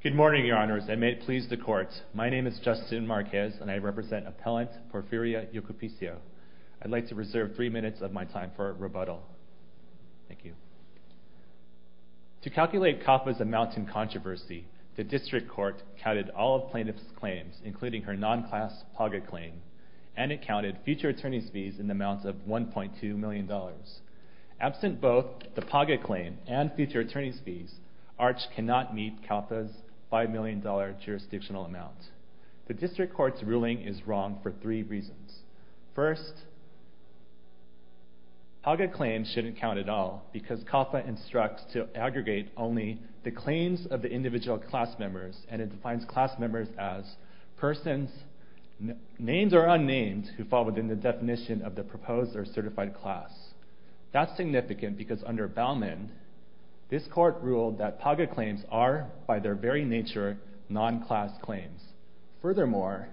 Good morning, Your Honors. I may please the Court. My name is Justin Marquez, and I represent Appellant Porfiria Yocupicio. I'd like to reserve three minutes of my time for rebuttal. Thank you. To calculate CAFA's amounts in controversy, the District Court counted all of plaintiff's claims, including her non-class PAGA claim, and it counted future attorney's fees in amounts of $1.2 million. Absent both the PAGA claim and future attorney's fees, ARCH cannot meet CAFA's $5 million jurisdictional amount. The District Court's ruling is wrong for three reasons. First, PAGA claims shouldn't count at all, because CAFA instructs to aggregate only the claims of the individual class members, and it defines class members as persons, names are unnamed, who fall within the definition of the proposed or certified class. That's significant because under Baumann, this Court ruled that PAGA claims are, by their very nature, non-class claims. Furthermore,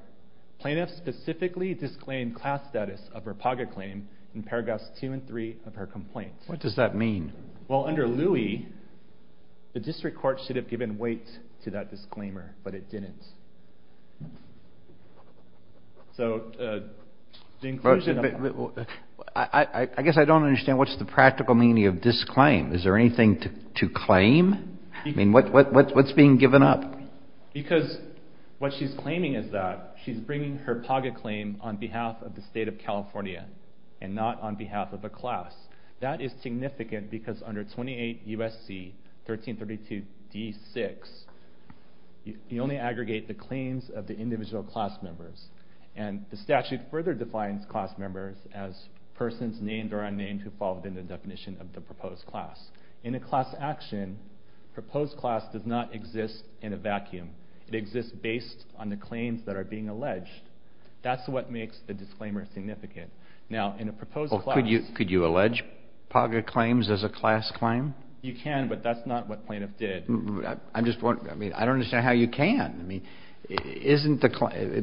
plaintiffs specifically disclaimed class status of her PAGA claim in paragraphs two and three of her complaint. What does that mean? Well, under Louie, the District Court should have given weight to that disclaimer, but it didn't. I guess I don't understand what's the practical meaning of this claim. Is there anything to claim? I mean, what's being given up? Because what she's claiming is that she's bringing her PAGA claim on behalf of the State of California, and not on behalf of a class. That is significant because under 28 U.S.C. 1332d6, you only aggregate the claims of the individual class members, and the statute further defines class members as persons, named or unnamed, who fall within the definition of the proposed class. In a class action, proposed class does not exist in a vacuum. It exists based on the claims that are being alleged. That's what makes the disclaimer significant. Now, in a proposed class... Could you allege PAGA claims as a class claim? You can, but that's not what plaintiff did. I don't understand how you can.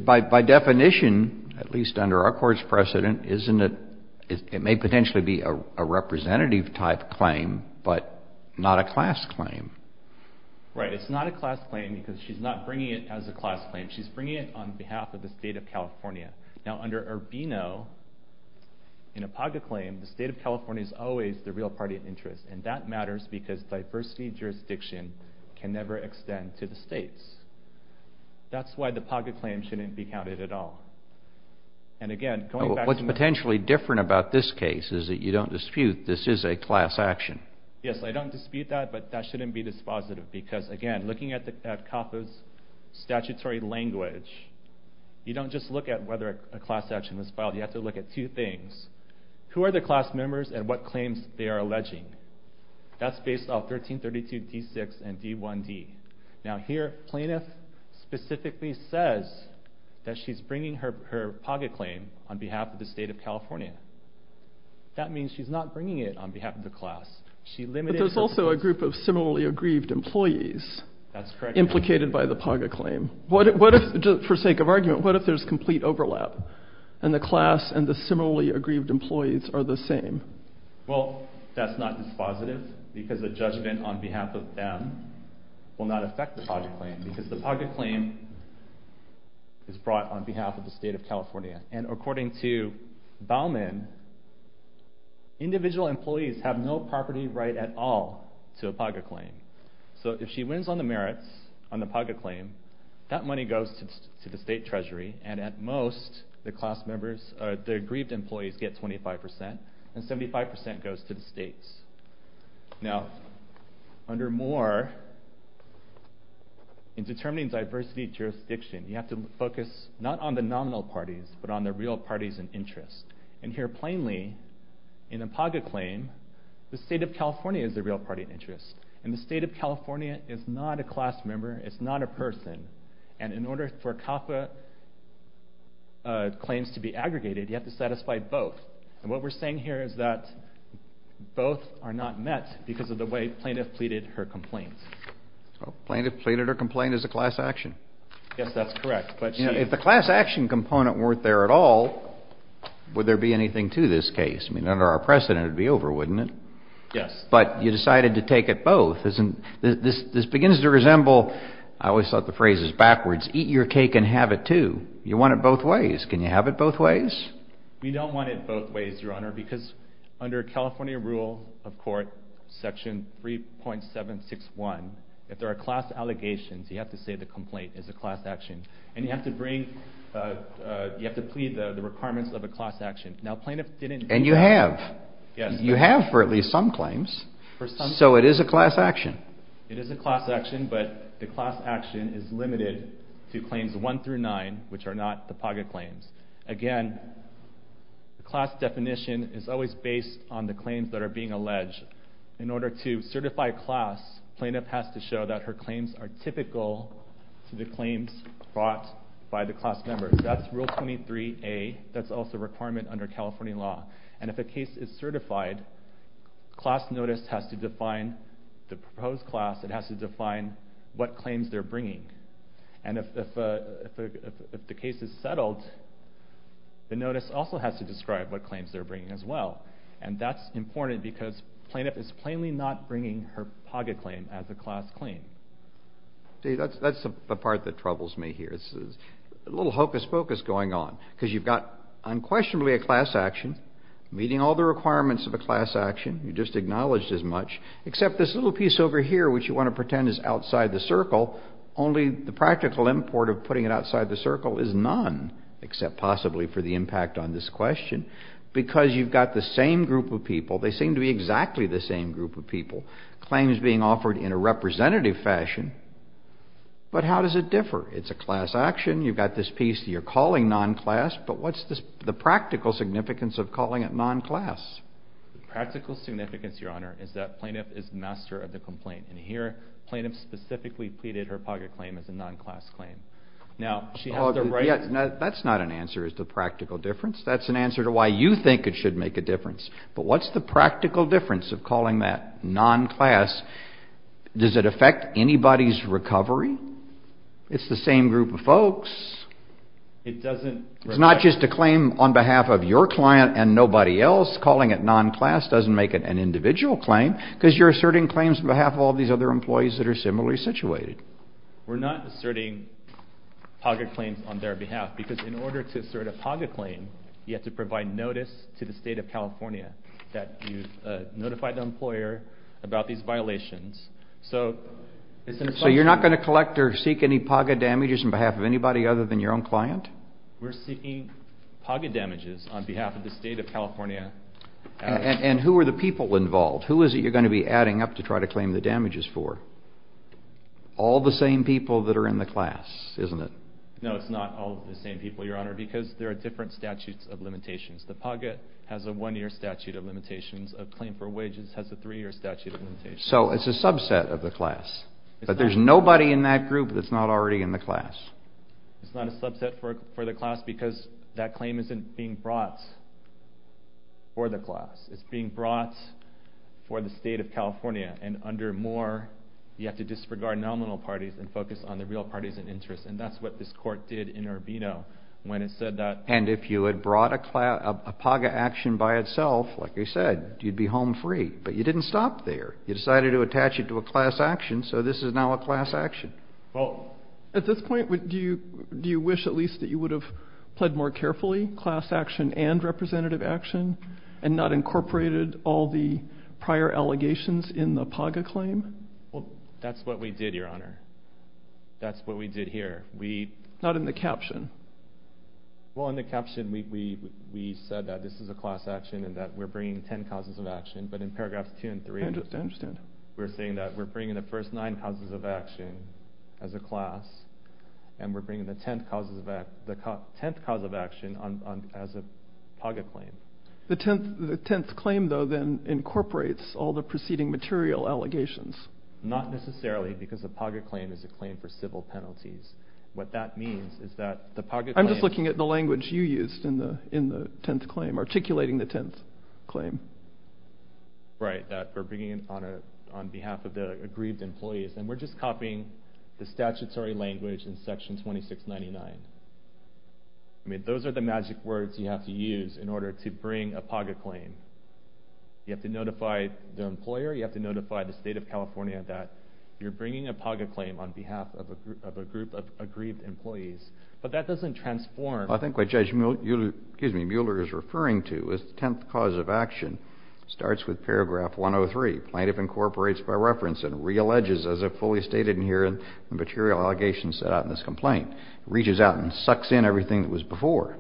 By definition, at least under our Court's precedent, it may potentially be a representative-type claim, but not a class claim. Right. It's not a class claim because she's not bringing it as a class claim. She's bringing it on behalf of the State of And that matters because diversity jurisdiction can never extend to the states. That's why the PAGA claim shouldn't be counted at all. And again, going back to... What's potentially different about this case is that you don't dispute this is a class action. Yes, I don't dispute that, but that shouldn't be dispositive because, again, looking at CAFA's statutory language, you don't just look at whether a class action was filed. You have to look at two things. Who are the class members and what claims they are alleging? That's based off 1332d6 and d1d. Now, here, plaintiff specifically says that she's bringing her PAGA claim on behalf of the State of California. That means she's not bringing it on behalf of the class. She limited... But there's also a group of similarly aggrieved employees... That's correct. Implicated by the PAGA claim. What if, just for sake of argument, what if there's complete overlap, and the class and the similarly aggrieved employees are the same? Well, that's not dispositive because the judgment on behalf of them will not affect the PAGA claim because the PAGA claim is brought on behalf of the State of California. And according to Bauman, individual employees have no property right at all to a PAGA claim. So if she wins on members, the aggrieved employees get 25%, and 75% goes to the states. Now, under Moore, in determining diversity jurisdiction, you have to focus not on the nominal parties, but on the real parties in interest. And here, plainly, in a PAGA claim, the State of California is the real party in interest. And the State of California is not a class member, it's a class action. And if she claims to be aggregated, you have to satisfy both. And what we're saying here is that both are not met because of the way plaintiff pleaded her complaints. Plaintiff pleaded her complaint as a class action? Yes, that's correct. But she... If the class action component weren't there at all, would there be anything to this case? I mean, under our precedent it would be over, wouldn't it? Yes. But you decided to take it both. This begins to resemble, I always thought the phrase was backwards, eat your cake and have it too. You want it both ways. Can you have it both ways? We don't want it both ways, Your Honor, because under California rule of court, section 3.761, if there are class allegations, you have to say the complaint is a class action. And you have to bring... You have to plead the requirements of a class action. Now plaintiff didn't... And you have. Yes. You have for at least some claims. For some... So it is a class action. It is a class action, but the class action is limited to claims 1 through 9, which are not the POGA claims. Again, the class definition is always based on the claims that are being alleged. In order to certify class, plaintiff has to show that her claims are typical to the claims brought by the class member. That's rule 23A. That's also a requirement under California law. And if a case is certified, class notice has to define the proposed class. It has to define what claims they're bringing. And if the case is settled, the notice also has to describe what claims they're bringing as well. And that's important because plaintiff is plainly not bringing her POGA claim as a class claim. See, that's the part that troubles me here. There's a little hocus-pocus going on. Because you've got unquestionably a class action, meeting all the requirements of a class action. You just acknowledged as much. Except this little piece over here, which you want to pretend is outside the circle. Only the practical import of putting it outside the circle is none, except possibly for the impact on this question. Because you've got the same group of people. They seem to be exactly the same group of people. Claims being offered in a representative fashion. But how does it differ? It's a class action. You've got this piece that you're calling non-class. But what's the practical significance of calling it non-class? Practical significance, Your Honor, is that plaintiff is master of the complaint. And here, plaintiff specifically pleaded her POGA claim as a non-class claim. Now, she has the right... That's not an answer as to practical difference. That's an answer to why you think it should make a difference. But what's the practical difference of calling that non-class? Does it affect anybody's recovery? It's the same group of folks. It's not just a claim on behalf of your client and nobody else. Calling it non-class doesn't make it an individual claim. Because you're asserting claims on behalf of all these other employees that are similarly situated. We're not asserting POGA claims on their behalf. Because in order to assert a POGA claim, you have to provide notice to the State of California that you've notified the employer about these claims. So you're not going to collect or seek any POGA damages on behalf of anybody other than your own client? We're seeking POGA damages on behalf of the State of California. And who are the people involved? Who is it you're going to be adding up to try to claim the damages for? All the same people that are in the class, isn't it? No, it's not all the same people, Your Honor, because there are different statutes of limitations. The POGA has a one-year statute of limitations. A claim for wages has a three-year statute of limitations. So it's a subset of the class. But there's nobody in that group that's not already in the class. It's not a subset for the class because that claim isn't being brought for the class. It's being brought for the State of California. And under Moore, you have to disregard nominal parties and focus on the real parties in interest. And that's what this Court did in Urbino when it said that... And if you had brought a POGA action by itself, like you said, you'd be home free. But you didn't stop there. You decided to attach it to a class action, so this is now a class action. Well, at this point, do you wish at least that you would have pled more carefully, class action and representative action, and not incorporated all the prior allegations in the POGA claim? Well, that's what we did, Your Honor. That's what we did here. We... Not in the caption. Well, in the caption, we said that this is a class action and that we're bringing ten causes of action. But in paragraphs two and three... I understand. We're saying that we're bringing the first nine causes of action as a class, and we're bringing the tenth cause of action as a POGA claim. The tenth claim, though, then incorporates all the preceding material allegations. Not necessarily, because a POGA claim is a claim for civil penalties. What that means is that the POGA claim... I'm just looking at the language you used in the tenth claim, articulating the tenth claim. Right, that we're bringing it on behalf of the aggrieved employees. And we're just copying the statutory language in section 2699. I mean, those are the magic words you have to use in order to bring a POGA claim. You have to notify the employer, you have to notify the state of California that you're bringing a POGA claim on behalf of a group of aggrieved employees. But that doesn't transform... I think what Judge Mueller is referring to as the tenth cause of action starts with paragraph 103. Plaintiff incorporates by reference and re-alleges, as fully stated in here, the material allegations set out in this complaint. Reaches out and sucks in everything that was before.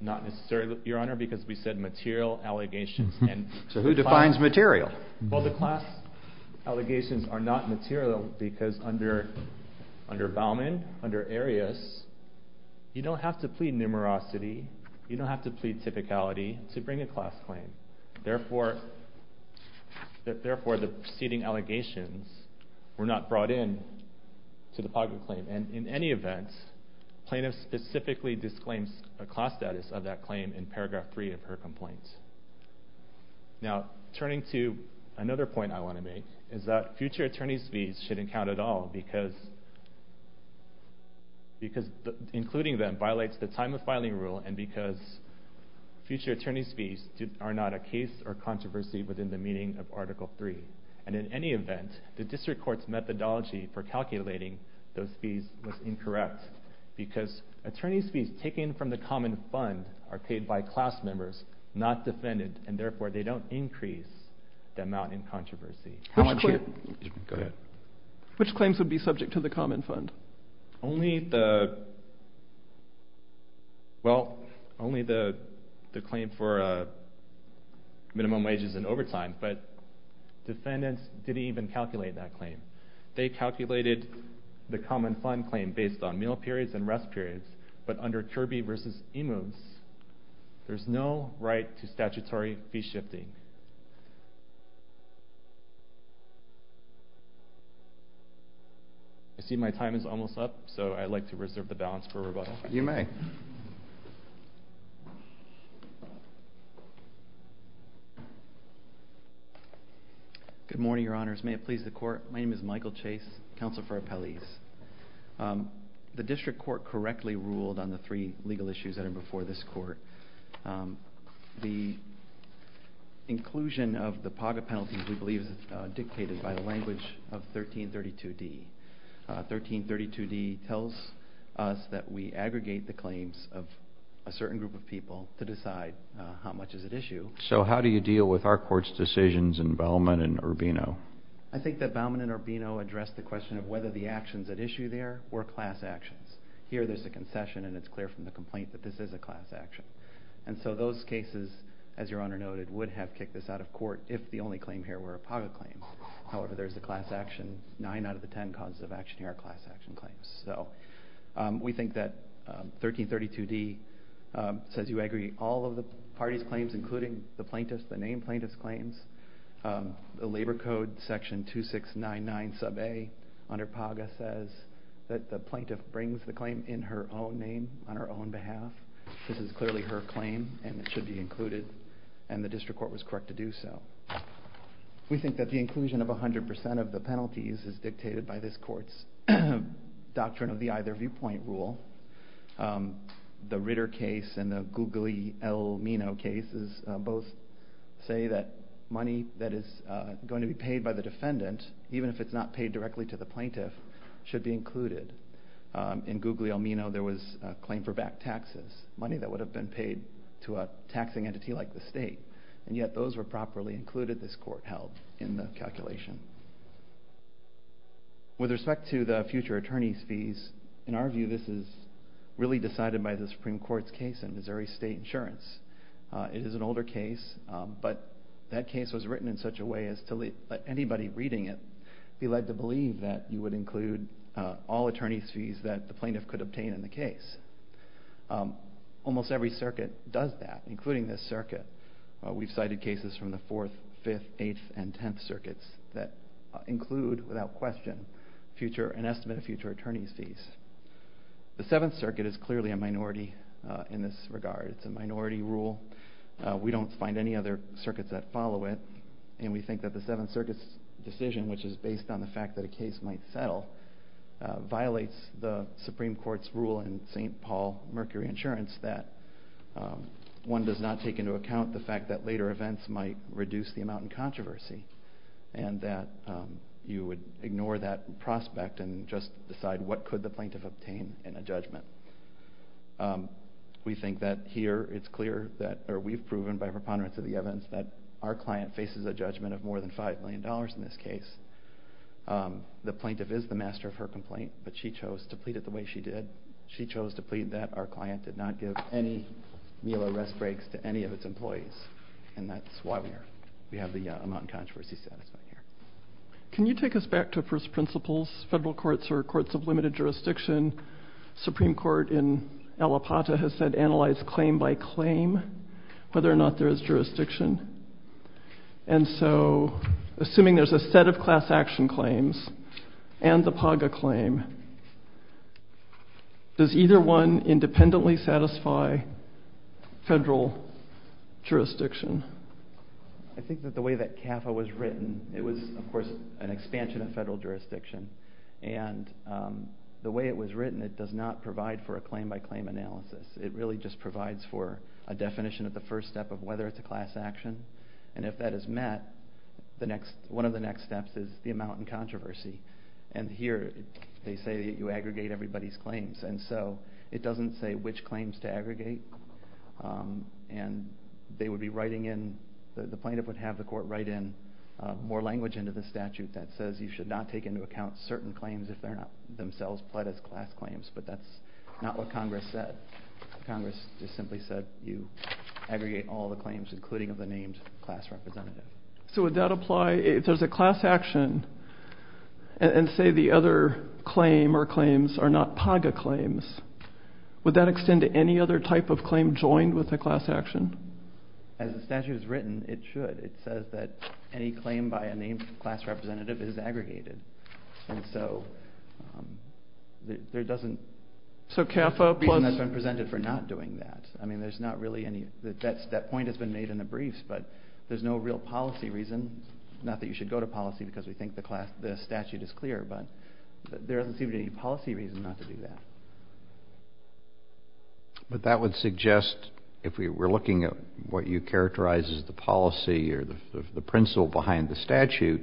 Not necessarily, Your Honor, because we said material allegations. So who defines material? Well, the class allegations are not material because under Bauman, under Arias, you don't have to plead numerosity, you don't have to plead typicality to bring a class claim. Therefore, the preceding allegations were not brought in to the POGA claim. And in any event, plaintiff specifically disclaims a class status of that claim in paragraph 3 of her complaint. Now, turning to another point I want to make, is that future attorney's fees shouldn't count at all because including them violates the time of filing rule and because future attorney's fees are not a case or controversy within the meaning of article 3. And in any event, the district court's methodology for calculating those fees was incorrect because attorney's fees taken from the common fund are paid by class members, not defendant, and therefore they don't increase the amount in controversy. Which claims would be subject to the common fund? Only the, well, only the claim for minimum wages and overtime, but defendants didn't even calculate that claim. They calculated the common fund claim based on meal periods and rest periods, but under Kirby v. Emos, there's no right to statutory fee shifting. I see my time is almost up, so I'd like to reserve the balance for rebuttal. You may. Good morning, your honors. May it please the court, my name is Michael Chase, counsel for appellees. The district court correctly ruled on the three legal issues that are before this court. The inclusion of the PAGA penalties, we believe, is dictated by the language of 1332D. 1332D tells us that we aggregate the claims of a certain group of people to decide how much is at issue. So how do you deal with our court's decisions in Bauman and Urbino? I think that Bauman and Urbino address the question of whether the actions at issue there were class actions. Here, there's a concession, and it's clear from the complaint that this is a class action. And so those cases, as your honor noted, would have kicked this out of court if the only claim here were a PAGA claim. However, there's a class action, nine out of the ten causes of action here are class action claims. So we think that 1332D says you agree all of the party's claims, including the plaintiff's, the name plaintiff's claims, the labor code section 2699 sub A under PAGA says that the plaintiff brings the claim in her own name, on her own behalf. This is clearly her claim, and it should be included, and the district court was correct to do so. We think that the inclusion of 100% of the penalties is dictated by this court's doctrine of the either viewpoint rule. The Ritter case and the Googly-Elmino cases both say that money that is going to be paid by the defendant, even if it's not paid directly to the plaintiff, should be included. In Googly-Elmino, there was a claim for back taxes, money that would have been paid to a taxing entity like the state, and yet those were properly included this court held in the calculation. With respect to the future attorney's fees, in our view, this is really decided by the district. This was written in such a way as to let anybody reading it be led to believe that you would include all attorney's fees that the plaintiff could obtain in the case. Almost every circuit does that, including this circuit. We've cited cases from the 4th, 5th, 8th, and 10th circuits that include, without question, an estimate of future attorney's fees. The 7th circuit is clearly a minority in this regard. It's a minority rule. We don't find any other circuits that follow it, and we think that the 7th circuit's decision, which is based on the fact that a case might settle, violates the Supreme Court's rule in St. Paul Mercury Insurance that one does not take into account the fact that later events might reduce the amount in controversy, and that you would ignore that prospect and just decide what could the plaintiff obtain in a judgment. We think that here it's clear that, or we've proven by preponderance of the evidence, that our client faces a judgment of more than $5 million in this case. The plaintiff is the master of her complaint, but she chose to plead it the way she did. She chose to plead that our client did not give any meal or rest breaks to any of its employees, and that's why we have the amount in controversy satisfied here. Can you take us back to first principles, federal courts or courts of limited jurisdiction, Supreme Court in Allapattah has said analyze claim by claim, whether or not there is jurisdiction, and so assuming there's a set of class action claims and the PAGA claim, does either one independently satisfy federal jurisdiction? I think that the way that CAFA was written, it was, of course, an expansion of federal jurisdiction, and the way it was written, it does not provide for a claim by claim analysis. It really just provides for a definition of the first step of whether it's a class action, and if that is met, one of the next steps is the amount in controversy, and here they say that you aggregate everybody's claims, and so it doesn't say which claims to aggregate, and they would be writing in, the plaintiff would have the court write in more language into the statute that says you should not take into account certain claims if they're not themselves pled as class claims, but that's not what Congress said. Congress just simply said you aggregate all the claims, including of the named class representative. So would that apply if there's a class action, and say the other claim or claims are not PAGA claims, would that extend to any other type of claim joined with a class action? As the statute is written, it should. It says that any claim by a named class representative is aggregated, and so there doesn't... So CAFA plus... ...reason that's been presented for not doing that. I mean, there's not really any... That point has been made in the briefs, but there's no real policy reason, not that you should go to policy because we think the statute is clear, but there doesn't seem to be any policy reason not to do that. But that would suggest if we were looking at what you characterize as the policy or the principle behind the statute,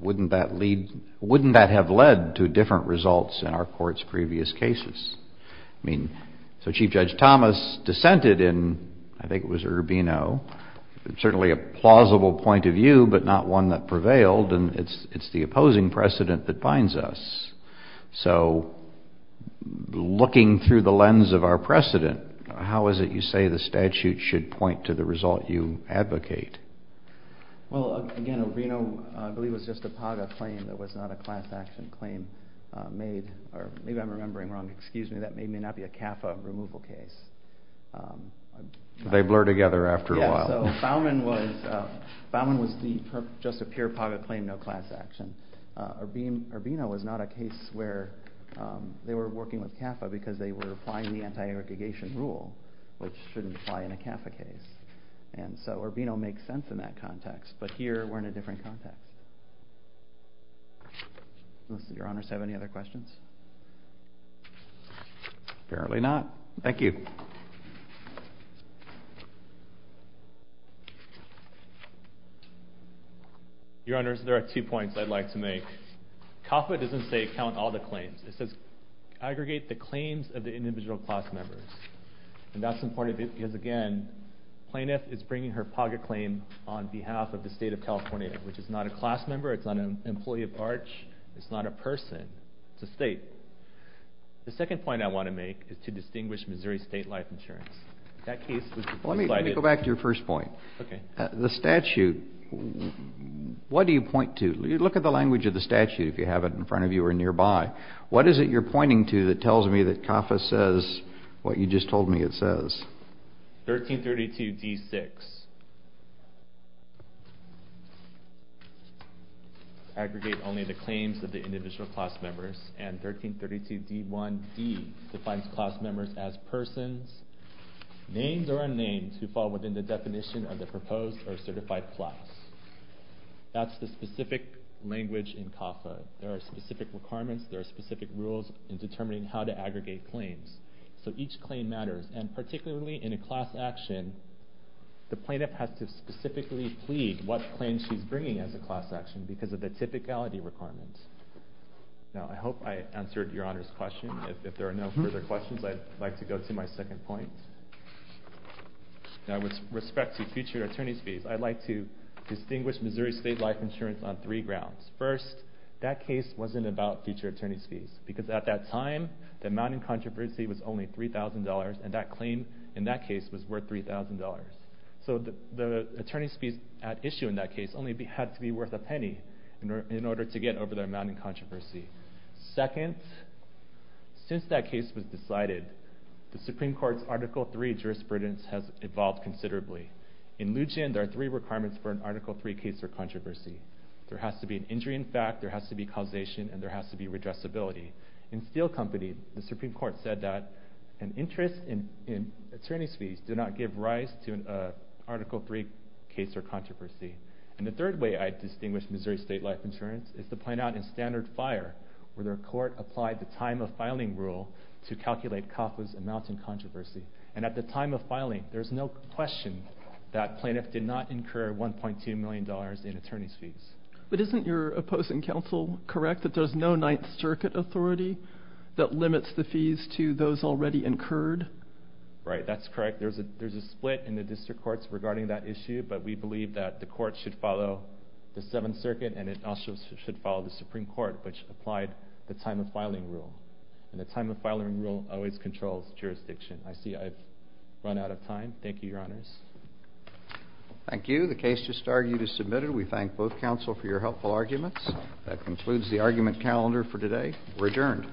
wouldn't that lead... Wouldn't that have led to different results in our court's previous cases? I mean, so Chief Judge Thomas dissented in, I think it was Urbino, certainly a plausible point of view, but not one that prevailed, and it's the opposing precedent that binds us. So looking through the lens of our precedent, how is it you say the statute should point to the result you advocate? Well, again, Urbino, I believe, was just a PAGA claim that was not a class action claim made, or maybe I'm remembering wrong. Excuse me. That may not be a CAFA removal case. They blur together after a while. Yeah, so Fowman was just a pure PAGA claim, no class action. Urbino was not a case where they were working with CAFA because they were applying the anti-aggregation rule, which shouldn't apply in a CAFA case. And so Urbino makes sense in that context, but here we're in a different context. Do your honors have any other questions? Apparently not. Thank you. Your honors, there are two points I'd like to make. CAFA doesn't say count all the claims. It says aggregate the claims of the individual class members, and that's important because, again, plaintiff is bringing her PAGA claim on behalf of the state of California, which is not a class member, it's not an employee of ARCH, it's not a person, it's a state. The second point I want to make is to distinguish Missouri State Life Insurance. Let me go back to your first point. The statute, what do you point to? Look at the language of the statute if you have it in front of you or nearby. What is it you're pointing to that tells me that CAFA says what you just told me it says? 1332d6, aggregate only the claims of the individual class members, and 1332d1d defines class members as persons, names or unnamed, who fall within the definition of the proposed or certified class. That's the specific language in CAFA. There are specific requirements, there are specific rules in determining how to aggregate claims. So each claim matters, and particularly in a class action, the plaintiff has to specifically plead what claim she's bringing as a class action because of the typicality requirements. Now I hope I answered your Honor's question. If there are no further questions, I'd like to go to my second point. Now with respect to future attorney's fees, I'd like to distinguish Missouri State Life Insurance on three grounds. Because at that time, the amount in controversy was only $3,000, and that claim in that case was worth $3,000. So the attorney's fees at issue in that case only had to be worth a penny in order to get over the amount in controversy. Second, since that case was decided, the Supreme Court's Article III jurisprudence has evolved considerably. In Lujan, there are three requirements for an Article III case for controversy. There has to be an injury in fact, there has to be causation, and there has to be redressability. In Steel Company, the Supreme Court said that an interest in attorney's fees did not give rise to an Article III case for controversy. And the third way I'd distinguish Missouri State Life Insurance is to point out in Standard Fire, where their court applied the time of filing rule to calculate CAFA's amount in controversy. And at the time of filing, there's no question that plaintiff did not incur $1.2 million in attorney's fees. But isn't your opposing counsel correct that there's no Ninth Circuit authority that limits the fees to those already incurred? Right, that's correct. There's a split in the district courts regarding that issue, but we believe that the court should follow the Seventh Circuit, and it also should follow the Supreme Court, which applied the time of filing rule. And the time of filing rule always controls jurisdiction. I see I've run out of time. Thank you, Your Honors. Thank you. The case just argued is submitted. We thank both counsel for your helpful arguments. That concludes the argument calendar for today. We're adjourned.